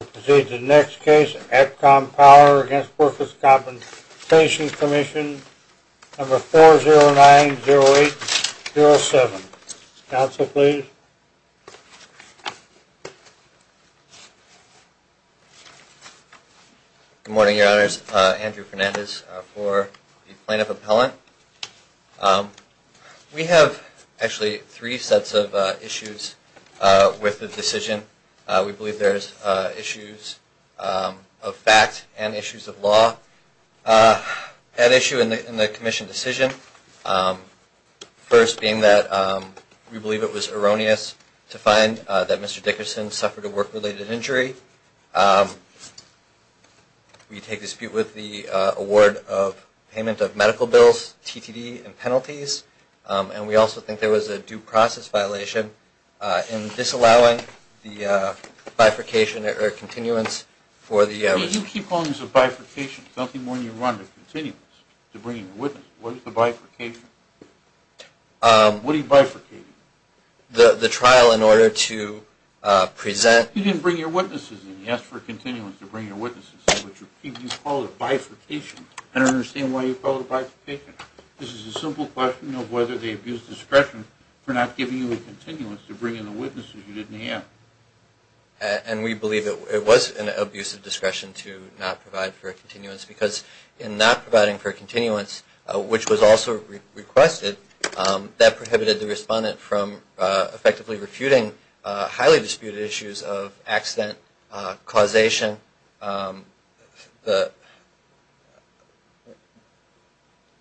We proceed to the next case, APCOM Power v. The Workers' Compensation Commission, number 4090807. Counsel, please. Good morning, Your Honors. Andrew Fernandez for the plaintiff appellant. We have actually three sets of issues with the decision. We believe there's issues of fact and issues of law. An issue in the commission decision, first being that we believe it was erroneous to find that Mr. Dickerson suffered a work-related injury. We take dispute with the award of payment of medical bills, TTD, and penalties. And we also think there was a due process violation in disallowing the bifurcation or continuance for the... You keep calling this a bifurcation. It's nothing more than you run the continuance to bring your witness. What is the bifurcation? What are you bifurcating? The trial in order to present... You didn't bring your witnesses in. You asked for a continuance to bring your witnesses in, which you call a bifurcation. I don't understand why you call it a bifurcation. This is a simple question of whether they abused discretion for not giving you a continuance to bring in the witnesses you didn't have. And we believe it was an abuse of discretion to not provide for a continuance because in not providing for a continuance, which was also requested, that prohibited the respondent from effectively refuting highly disputed issues of accident causation.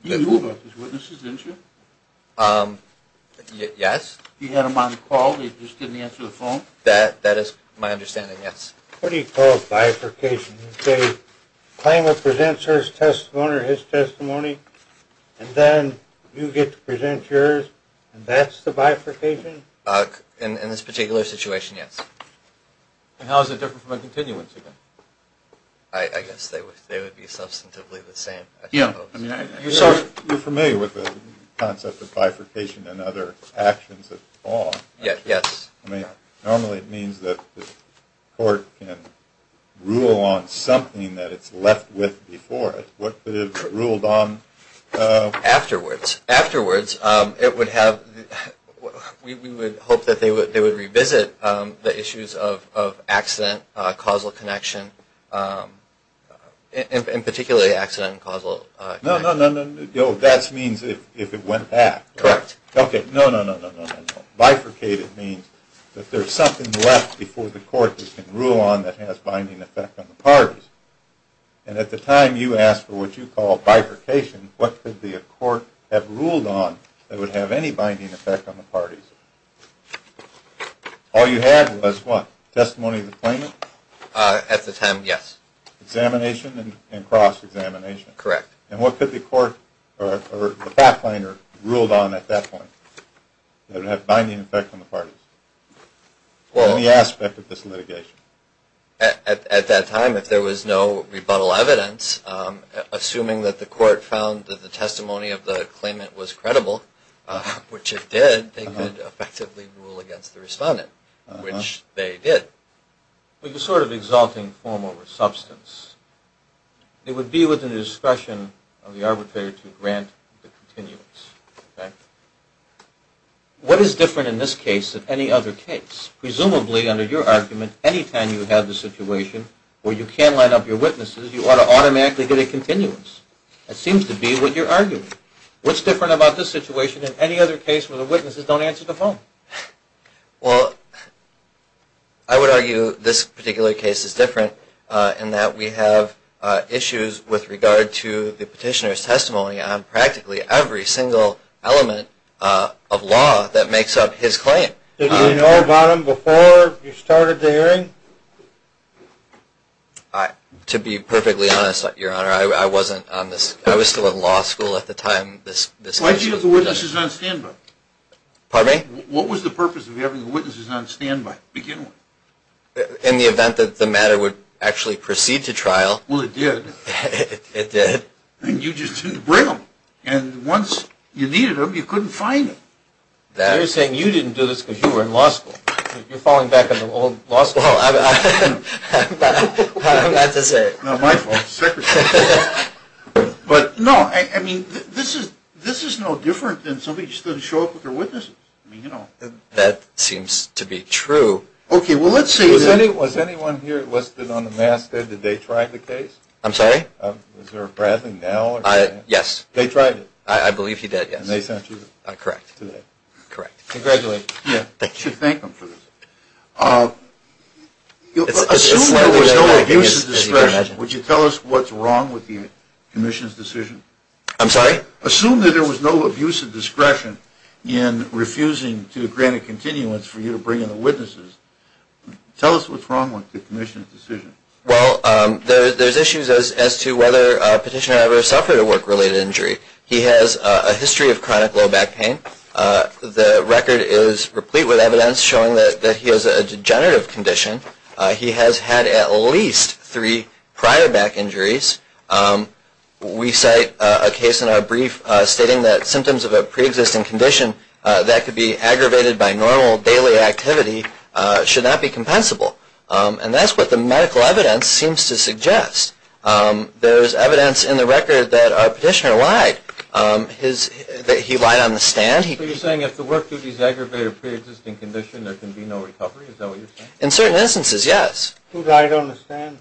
You knew about his witnesses, didn't you? Yes. You had them on the call? They just didn't answer the phone? That is my understanding, yes. What do you call bifurcation? You say, claimant presents his testimony, and then you get to present yours, and that's the bifurcation? In this particular situation, yes. And how is it different from a continuance? I guess they would be substantively the same, I suppose. You're familiar with the concept of bifurcation and other actions of law, aren't you? Yes. Normally it means that the court can rule on something that it's left with before it. What could it have ruled on afterwards? Afterwards, we would hope that they would revisit the issues of accident, causal connection, and particularly accident and causal connection. No, no, no. That means if it went back. Correct. No, no, no. Bifurcated means that there's something left before the court can rule on that has binding effect on the parties. And at the time you asked for what you call bifurcation, what could the court have ruled on that would have any binding effect on the parties? All you had was what? Testimony of the claimant? At the time, yes. Examination and cross-examination? Correct. And what could the court, or the fact finder, ruled on at that point that would have binding effect on the parties? Any aspect of this litigation? At that time, if there was no rebuttal evidence, assuming that the court found that the testimony of the claimant was credible, which it did, they could effectively rule against the respondent, which they did. But you're sort of exalting form over substance. It would be within the discretion of the arbitrator to grant the continuance. What is different in this case than any other case? Presumably, under your argument, any time you have the situation where you can't line up your witnesses, you ought to automatically get a continuance. That seems to be what you're arguing. What's different about this situation than any other case where the witnesses don't answer the phone? Well, I would argue this particular case is different in that we have issues with regard to the petitioner's testimony on practically every single case. There's a fundamental element of law that makes up his claim. Did you know about him before you started the hearing? To be perfectly honest, Your Honor, I was still in law school at the time this case was done. Why did you have the witnesses on standby? Pardon me? What was the purpose of having the witnesses on standby, beginning with? In the event that the matter would actually proceed to trial. Well, it did. It did. And you just didn't bring them. And once you needed them, you couldn't find them. You're saying you didn't do this because you were in law school. You're falling back on the old law school. Well, I'm about to say it. No, my fault. Secretary. But, no, I mean, this is no different than somebody just doesn't show up with their witnesses. That seems to be true. Okay, well, let's see. Was anyone here listed on the master? Did they try the case? I'm sorry? Is there a Bradley now? Yes. They tried it? I believe he did, yes. And they sent you? Correct. Correct. Congratulations. Thank you. You should thank them for this. Assume there was no abuse of discretion. Would you tell us what's wrong with the commission's decision? I'm sorry? Assume that there was no abuse of discretion in refusing to grant a continuance for you to bring in the witnesses. Tell us what's wrong with the commission's decision. Well, there's issues as to whether a petitioner ever suffered a work-related injury. He has a history of chronic low back pain. The record is replete with evidence showing that he has a degenerative condition. He has had at least three prior back injuries. We cite a case in our brief stating that symptoms of a preexisting condition that could be aggravated by normal daily activity should not be compensable. And that's what the medical evidence seems to suggest. There is evidence in the record that our petitioner lied, that he lied on the stand. Are you saying if the work duty is aggravated by a preexisting condition, there can be no recovery? Is that what you're saying? In certain instances, yes. Who lied on the stand?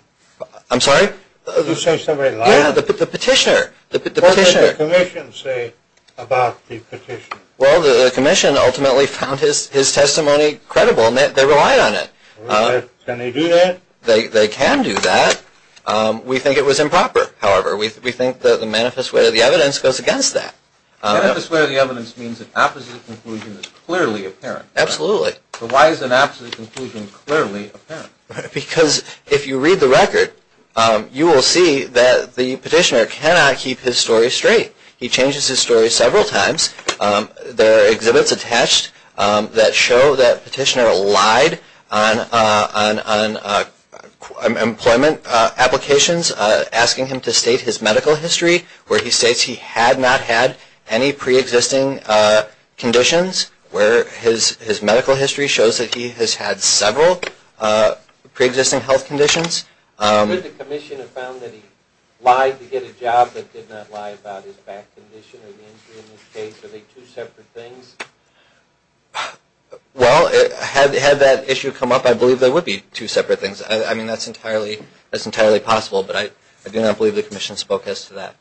I'm sorry? Did you say somebody lied? Yeah, the petitioner. What did the commission say about the petitioner? Well, the commission ultimately found his testimony credible, and they relied on it. Can they do that? They can do that. We think it was improper, however. We think that the manifest way of the evidence goes against that. Manifest way of the evidence means an opposite conclusion is clearly apparent. Absolutely. But why is an opposite conclusion clearly apparent? Because if you read the record, you will see that the petitioner cannot keep his story straight. He changes his story several times. There are exhibits attached that show that the petitioner lied on employment applications, asking him to state his medical history, where he states he had not had any preexisting conditions, where his medical history shows that he has had several preexisting health conditions. Could the commission have found that he lied to get a job but did not lie about his back condition or the injury in this case? Are they two separate things? Well, had that issue come up, I believe they would be two separate things. I mean, that's entirely possible, but I do not believe the commission spoke as to that.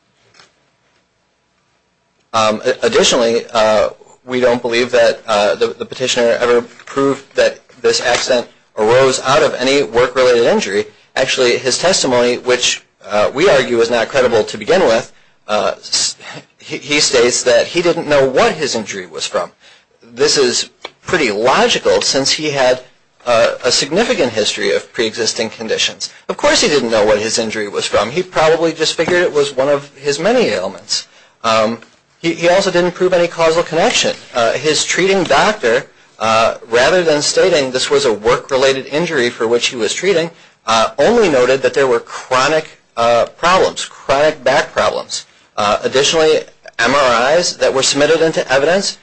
Additionally, we don't believe that the petitioner ever proved that this accident arose out of any work-related injury. Actually, his testimony, which we argue is not credible to begin with, he states that he didn't know what his injury was from. This is pretty logical since he had a significant history of preexisting conditions. Of course he didn't know what his injury was from. He probably just figured it was one of his many ailments. He also didn't prove any causal connection. His treating doctor, rather than stating this was a work-related injury for which he was treating, only noted that there were chronic problems, chronic back problems. Additionally, MRIs that were submitted into evidence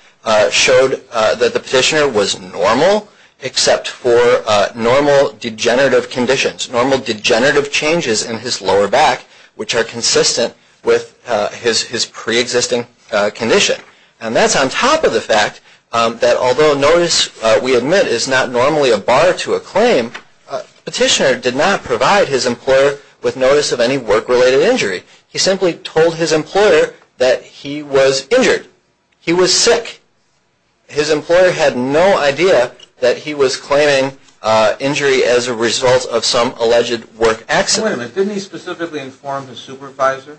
showed that the petitioner was normal except for normal degenerative conditions, normal degenerative changes in his lower back, which are consistent with his preexisting condition. And that's on top of the fact that although notice, we admit, is not normally a bar to a claim, the petitioner did not provide his employer with notice of any work-related injury. He simply told his employer that he was injured. He was sick. His employer had no idea that he was claiming injury as a result of some alleged work accident. Wait a minute, didn't he specifically inform his supervisor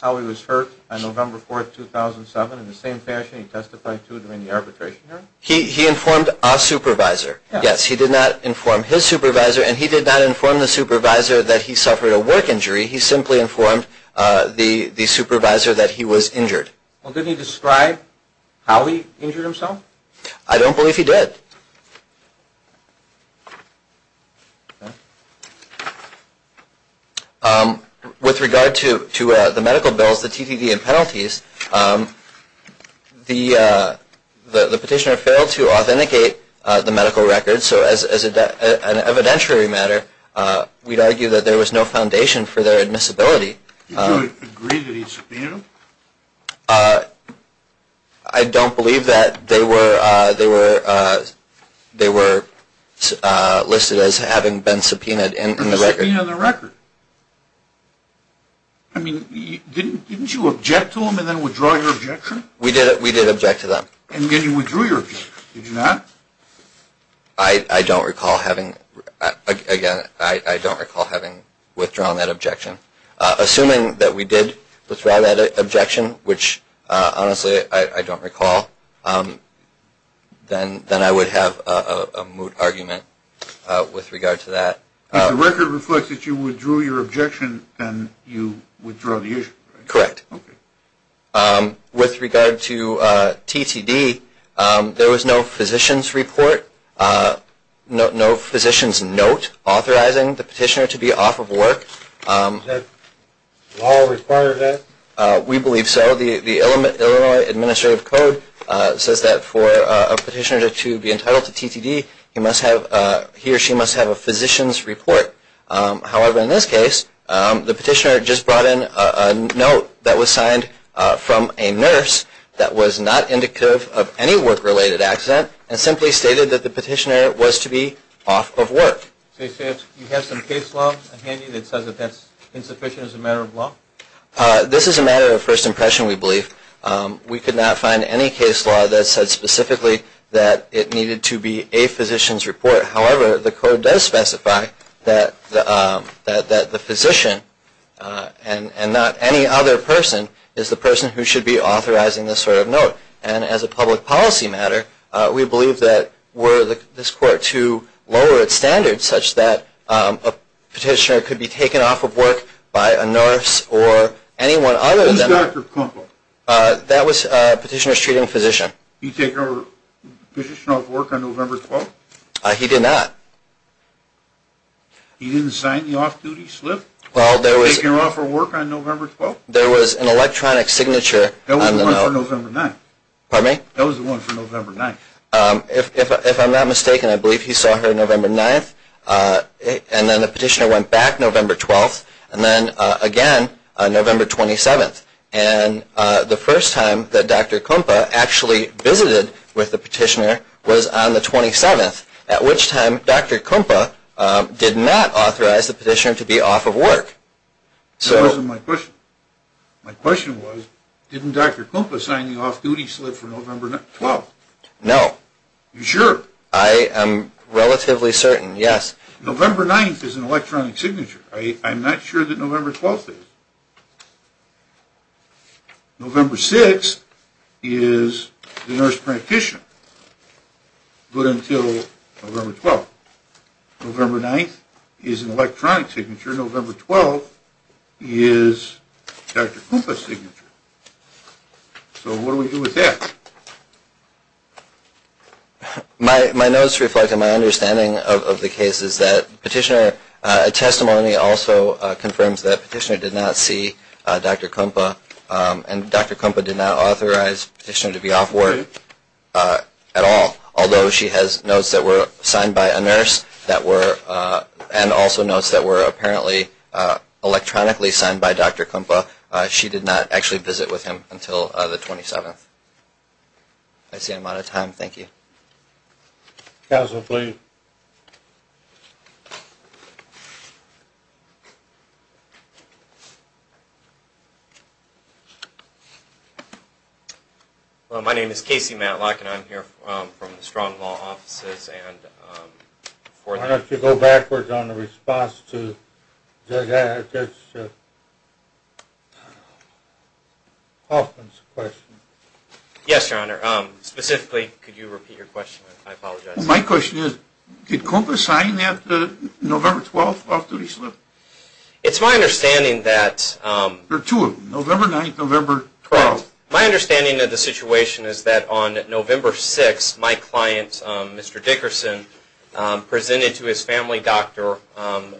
how he was hurt on November 4, 2007, in the same fashion he testified to during the arbitration hearing? He informed our supervisor. Yes, he did not inform his supervisor, and he did not inform the supervisor that he suffered a work injury. He simply informed the supervisor that he was injured. Well, didn't he describe how he injured himself? I don't believe he did. With regard to the medical bills, the TDD, and penalties, the petitioner failed to authenticate the medical records. So as an evidentiary matter, we'd argue that there was no foundation for their admissibility. Did you agree that he subpoenaed them? I don't believe that. They were listed as having been subpoenaed in the record. Subpoenaed in the record? I mean, didn't you object to them and then withdraw your objection? We did object to them. And then you withdrew your objection, did you not? I don't recall having, again, I don't recall having withdrawn that objection. Assuming that we did withdraw that objection, which honestly I don't recall, then I would have a moot argument with regard to that. If the record reflects that you withdrew your objection, then you withdraw the issue, right? Correct. With regard to TDD, there was no physician's report, no physician's note authorizing the petitioner to be off of work. Does law require that? We believe so. The Illinois Administrative Code says that for a petitioner to be entitled to TDD, he or she must have a physician's report. However, in this case, the petitioner just brought in a note that was signed from a nurse that was not indicative of any work-related accident and simply stated that the petitioner was to be off of work. So you have some case law handy that says that that's insufficient as a matter of law? This is a matter of first impression, we believe. We could not find any case law that said specifically that it needed to be a physician's report. However, the Code does specify that the physician and not any other person is the person who should be authorizing this sort of note. And as a public policy matter, we believe that were this court to lower its standards such that a petitioner could be taken off of work by a nurse or anyone other than that? Who's Dr. Kumpel? That was a petitioner's treating physician. He take a petitioner off of work on November 12th? He did not. He didn't sign the off-duty slip? He didn't take her off of work on November 12th? There was an electronic signature on the note. That was the one for November 9th. Pardon me? That was the one for November 9th. If I'm not mistaken, I believe he saw her November 9th, and then the petitioner went back November 12th, and then again November 27th. And the first time that Dr. Kumpel actually visited with the petitioner was on the 27th, at which time Dr. Kumpel did not authorize the petitioner to be off of work. That wasn't my question. My question was, didn't Dr. Kumpel sign the off-duty slip for November 12th? No. Are you sure? I am relatively certain, yes. November 9th is an electronic signature. I'm not sure that November 12th is. November 6th is the nurse practitioner, good until November 12th. November 9th is an electronic signature. November 12th is Dr. Kumpel's signature. So what do we do with that? My notes reflect on my understanding of the case is that petitioner testimony also confirms that petitioner did not see Dr. Kumpel, and Dr. Kumpel did not authorize petitioner to be off work at all, although she has notes that were signed by a nurse and also notes that were apparently electronically signed by Dr. Kumpel. She did not actually visit with him until the 27th. I see I'm out of time. Thank you. Counsel, please. My name is Casey Matlock, and I'm here from the Strong Law Offices. Why don't you go backwards on the response to Judge Hoffman's question? Yes, Your Honor. Specifically, could you repeat your question? I apologize. My question is, did Kumpel sign that November 12th off-duty slip? It's my understanding that... There are two of them, November 9th and November 12th. My understanding of the situation is that on November 6th, my client, Mr. Dickerson, presented to his family doctor.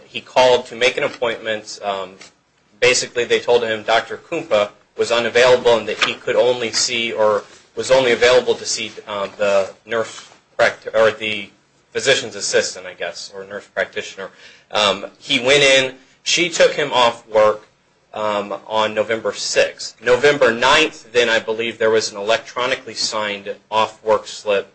He called to make an appointment. Basically, they told him Dr. Kumpel was unavailable and that he could only see or was only available to see the physician's assistant, I guess, or nurse practitioner. He went in. She took him off work on November 6th. November 9th, then, I believe there was an electronically signed off-work slip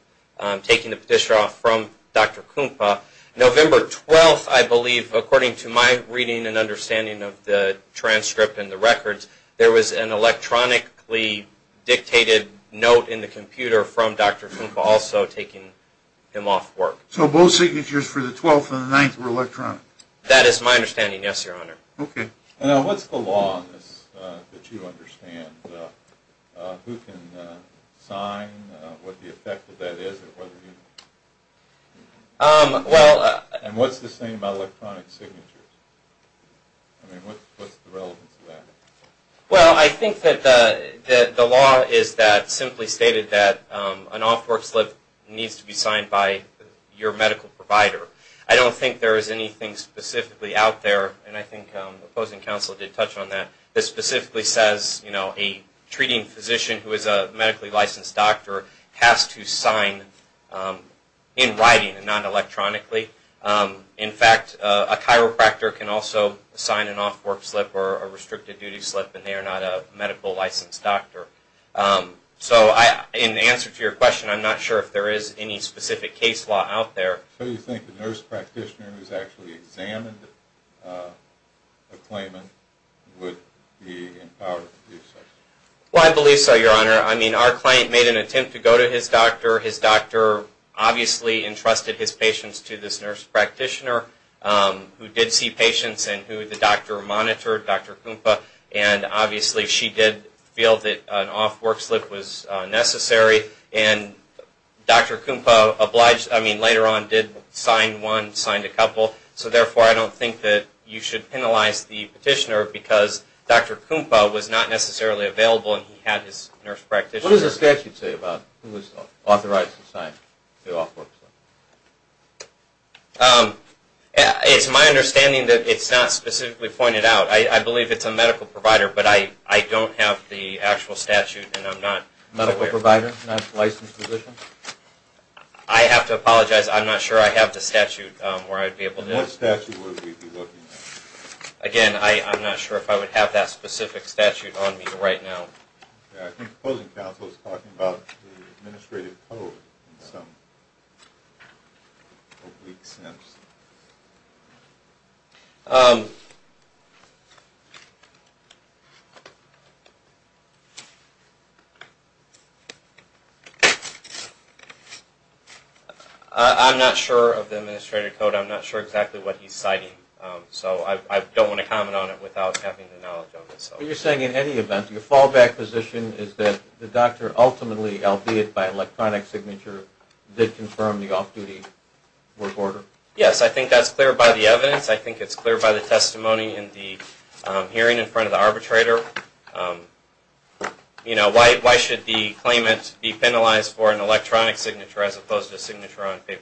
taking the petitioner off from Dr. Kumpel. November 12th, I believe, according to my reading and understanding of the transcript and the records, there was an electronically dictated note in the computer from Dr. Kumpel also taking him off work. So both signatures for the 12th and the 9th were electronic? That is my understanding, yes, Your Honor. Okay. Now, what's the law on this that you understand? Who can sign, what the effect of that is, and whether you... And what's the same about electronic signatures? I mean, what's the relevance of that? Well, I think that the law is that, simply stated that an off-work slip needs to be signed by your medical provider. I don't think there is anything specifically out there, and I think the opposing counsel did touch on that, that specifically says, you know, a treating physician who is a medically licensed doctor has to sign in writing and not electronically. In fact, a chiropractor can also sign an off-work slip or a restricted-duty slip, and they are not a medically licensed doctor. So in answer to your question, I'm not sure if there is any specific case law out there. So you think the nurse practitioner who's actually examined the claimant would be empowered to do so? Well, I believe so, Your Honor. I mean, our client made an attempt to go to his doctor. His doctor obviously entrusted his patients to this nurse practitioner who did see patients and who the doctor monitored, Dr. Kumpa, and obviously she did feel that an off-work slip was necessary, and Dr. Kumpa obliged... I mean, later on did sign one, signed a couple, so therefore I don't think that you should penalize the petitioner because Dr. Kumpa was not necessarily available and he had his nurse practitioner... He has the right to sign the off-work slip. It's my understanding that it's not specifically pointed out. I believe it's a medical provider, but I don't have the actual statute and I'm not aware. Medical provider, not licensed physician? I have to apologize. I'm not sure I have the statute where I'd be able to... What statute would we be looking at? Again, I'm not sure if I would have that specific statute on me right now. I think the opposing counsel is talking about the administrative code in some oblique sense. I'm not sure of the administrative code. I'm not sure exactly what he's citing, so I don't want to comment on it without having the knowledge of it. What you're saying in any event, your fallback position is that the doctor ultimately, albeit by electronic signature, did confirm the off-duty work order? Yes, I think that's clear by the evidence. I think it's clear by the testimony in the hearing in front of the arbitrator. Why should the claimant be penalized for an electronic signature as opposed to a signature on paper?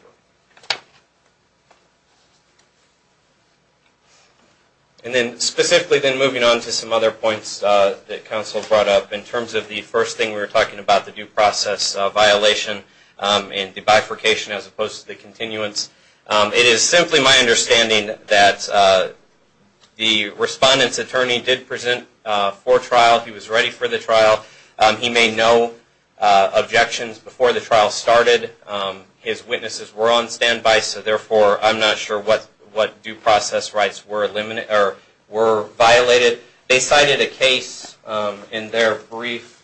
Thank you. Specifically, then moving on to some other points that counsel brought up, in terms of the first thing we were talking about, the due process violation and the bifurcation as opposed to the continuance. It is simply my understanding that the respondent's attorney did present for trial. He was ready for the trial. He made no objections before the trial started. His witnesses were on standby, so therefore I'm not sure what due process rights were violated. They cited a case in their brief.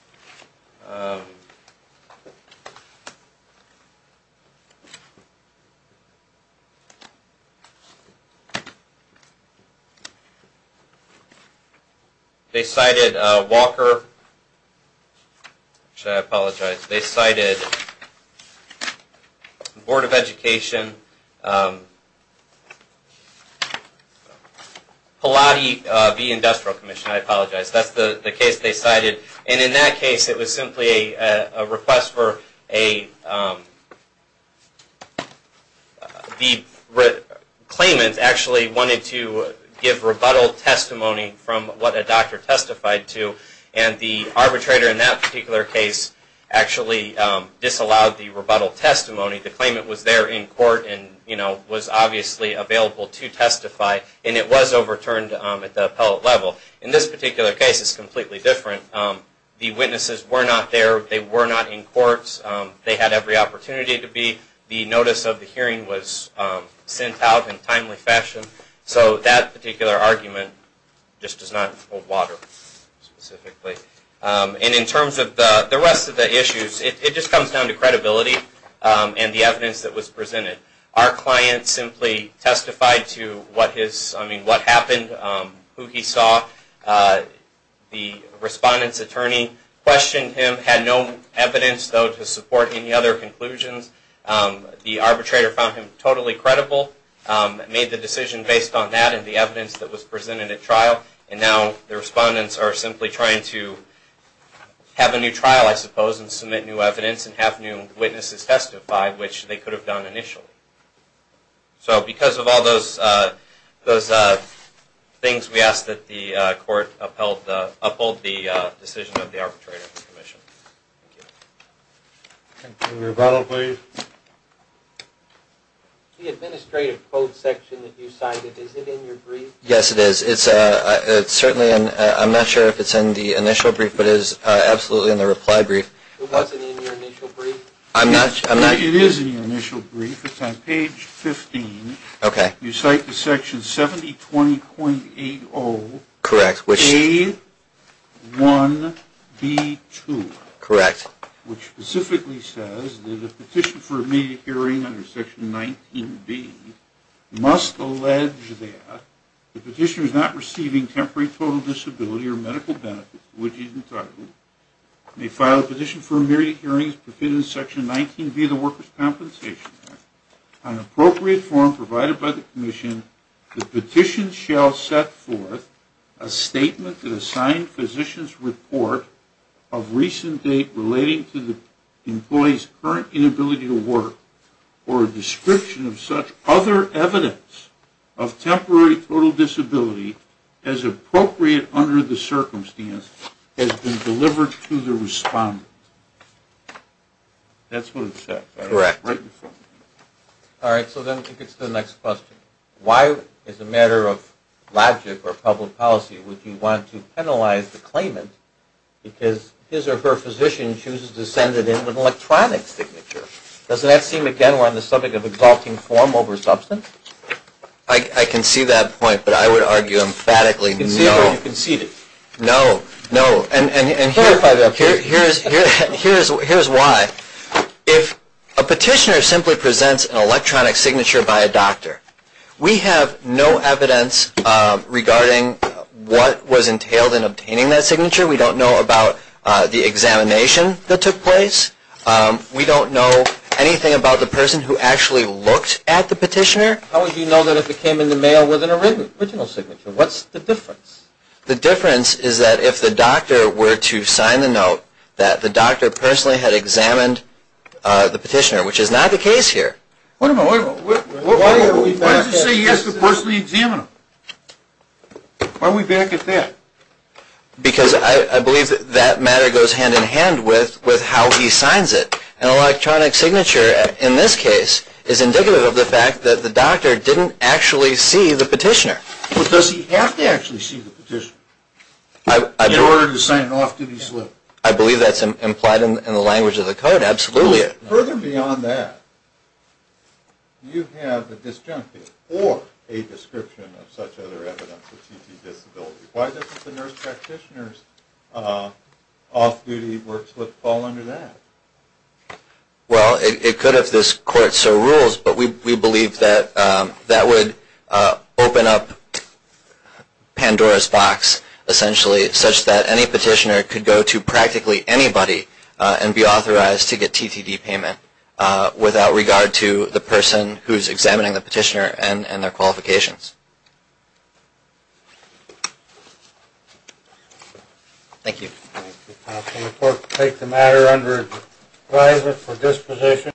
They cited Walker. Actually, I apologize. They cited the Board of Education, Pilate v. Industrial Commission. I apologize. That's the case they cited. In that case, it was simply a request for a... The claimant actually wanted to give rebuttal testimony from what a doctor testified to, and the arbitrator in that particular case actually disallowed the rebuttal testimony. The claimant was there in court and was obviously available to testify, and it was overturned at the Pilate level. In this particular case, it's completely different. The witnesses were not there. They were not in court. They had every opportunity to be. The notice of the hearing was sent out in timely fashion, so that particular argument just does not hold water specifically. In terms of the rest of the issues, it just comes down to credibility and the evidence that was presented. Our client simply testified to what happened, who he saw. The respondent's attorney questioned him, had no evidence, though, to support any other conclusions. The arbitrator found him totally credible, made the decision based on that and the evidence that was presented at trial, and now the respondents are simply trying to have a new trial, I suppose, and submit new evidence and have new witnesses testify, which they could have done initially. Because of all those things, we ask that the court uphold the decision of the arbitrator in this commission. Thank you. Rebuttal, please. The administrative quote section that you cited, is it in your brief? Yes, it is. Certainly, I'm not sure if it's in the initial brief, but it is absolutely in the reply brief. It wasn't in your initial brief? I'm not sure. It is in your initial brief. It's on page 15. Okay. You cite the section 7020.80. Correct. A1B2. Correct. Which specifically says that a petition for immediate hearing under section 19B must allege that the petitioner is not receiving temporary total disability or medical benefits, which is entitled, may file a petition for immediate hearing as provided in section 19B of the Workers' Compensation Act. On appropriate form provided by the commission, the petition shall set forth a statement that assigned physicians report of recent date relating to the employee's current inability to work or a description of such other evidence of temporary total disability as appropriate under the circumstance has been delivered to the respondent. That's what it said, right? Correct. Right in front of you. All right, so then I think it's the next question. Why, as a matter of logic or public policy, would you want to penalize the claimant because his or her physician chooses to send it in with an electronic signature? Doesn't that seem, again, we're on the subject of exalting form over substance? I can see that point, but I would argue emphatically no. You can see it. No. No. And here's why. If a petitioner simply presents an electronic signature by a doctor, we have no evidence regarding what was entailed in obtaining that signature. We don't know about the examination that took place. We don't know anything about the person who actually looked at the petitioner. How would you know that it came in the mail with an original signature? What's the difference? The difference is that if the doctor were to sign the note that the doctor personally had examined the petitioner, which is not the case here. Wait a minute. Wait a minute. Why does it say he has to personally examine them? Why are we back at that? Because I believe that matter goes hand in hand with how he signs it. An electronic signature, in this case, is indicative of the fact that the doctor didn't actually see the petitioner. But does he have to actually see the petitioner? In order to sign off, did he slip? I believe that's implied in the language of the code, absolutely. Further beyond that, you have a disjunctive or a description of such other evidence of CT disability. Why doesn't the nurse practitioner's off-duty work slip fall under that? Well, it could if this court so rules, but we believe that that would open up Pandora's box, essentially, such that any petitioner could go to practically anybody and be authorized to get TTD payment without regard to the person who is examining the petitioner and their qualifications. Thank you.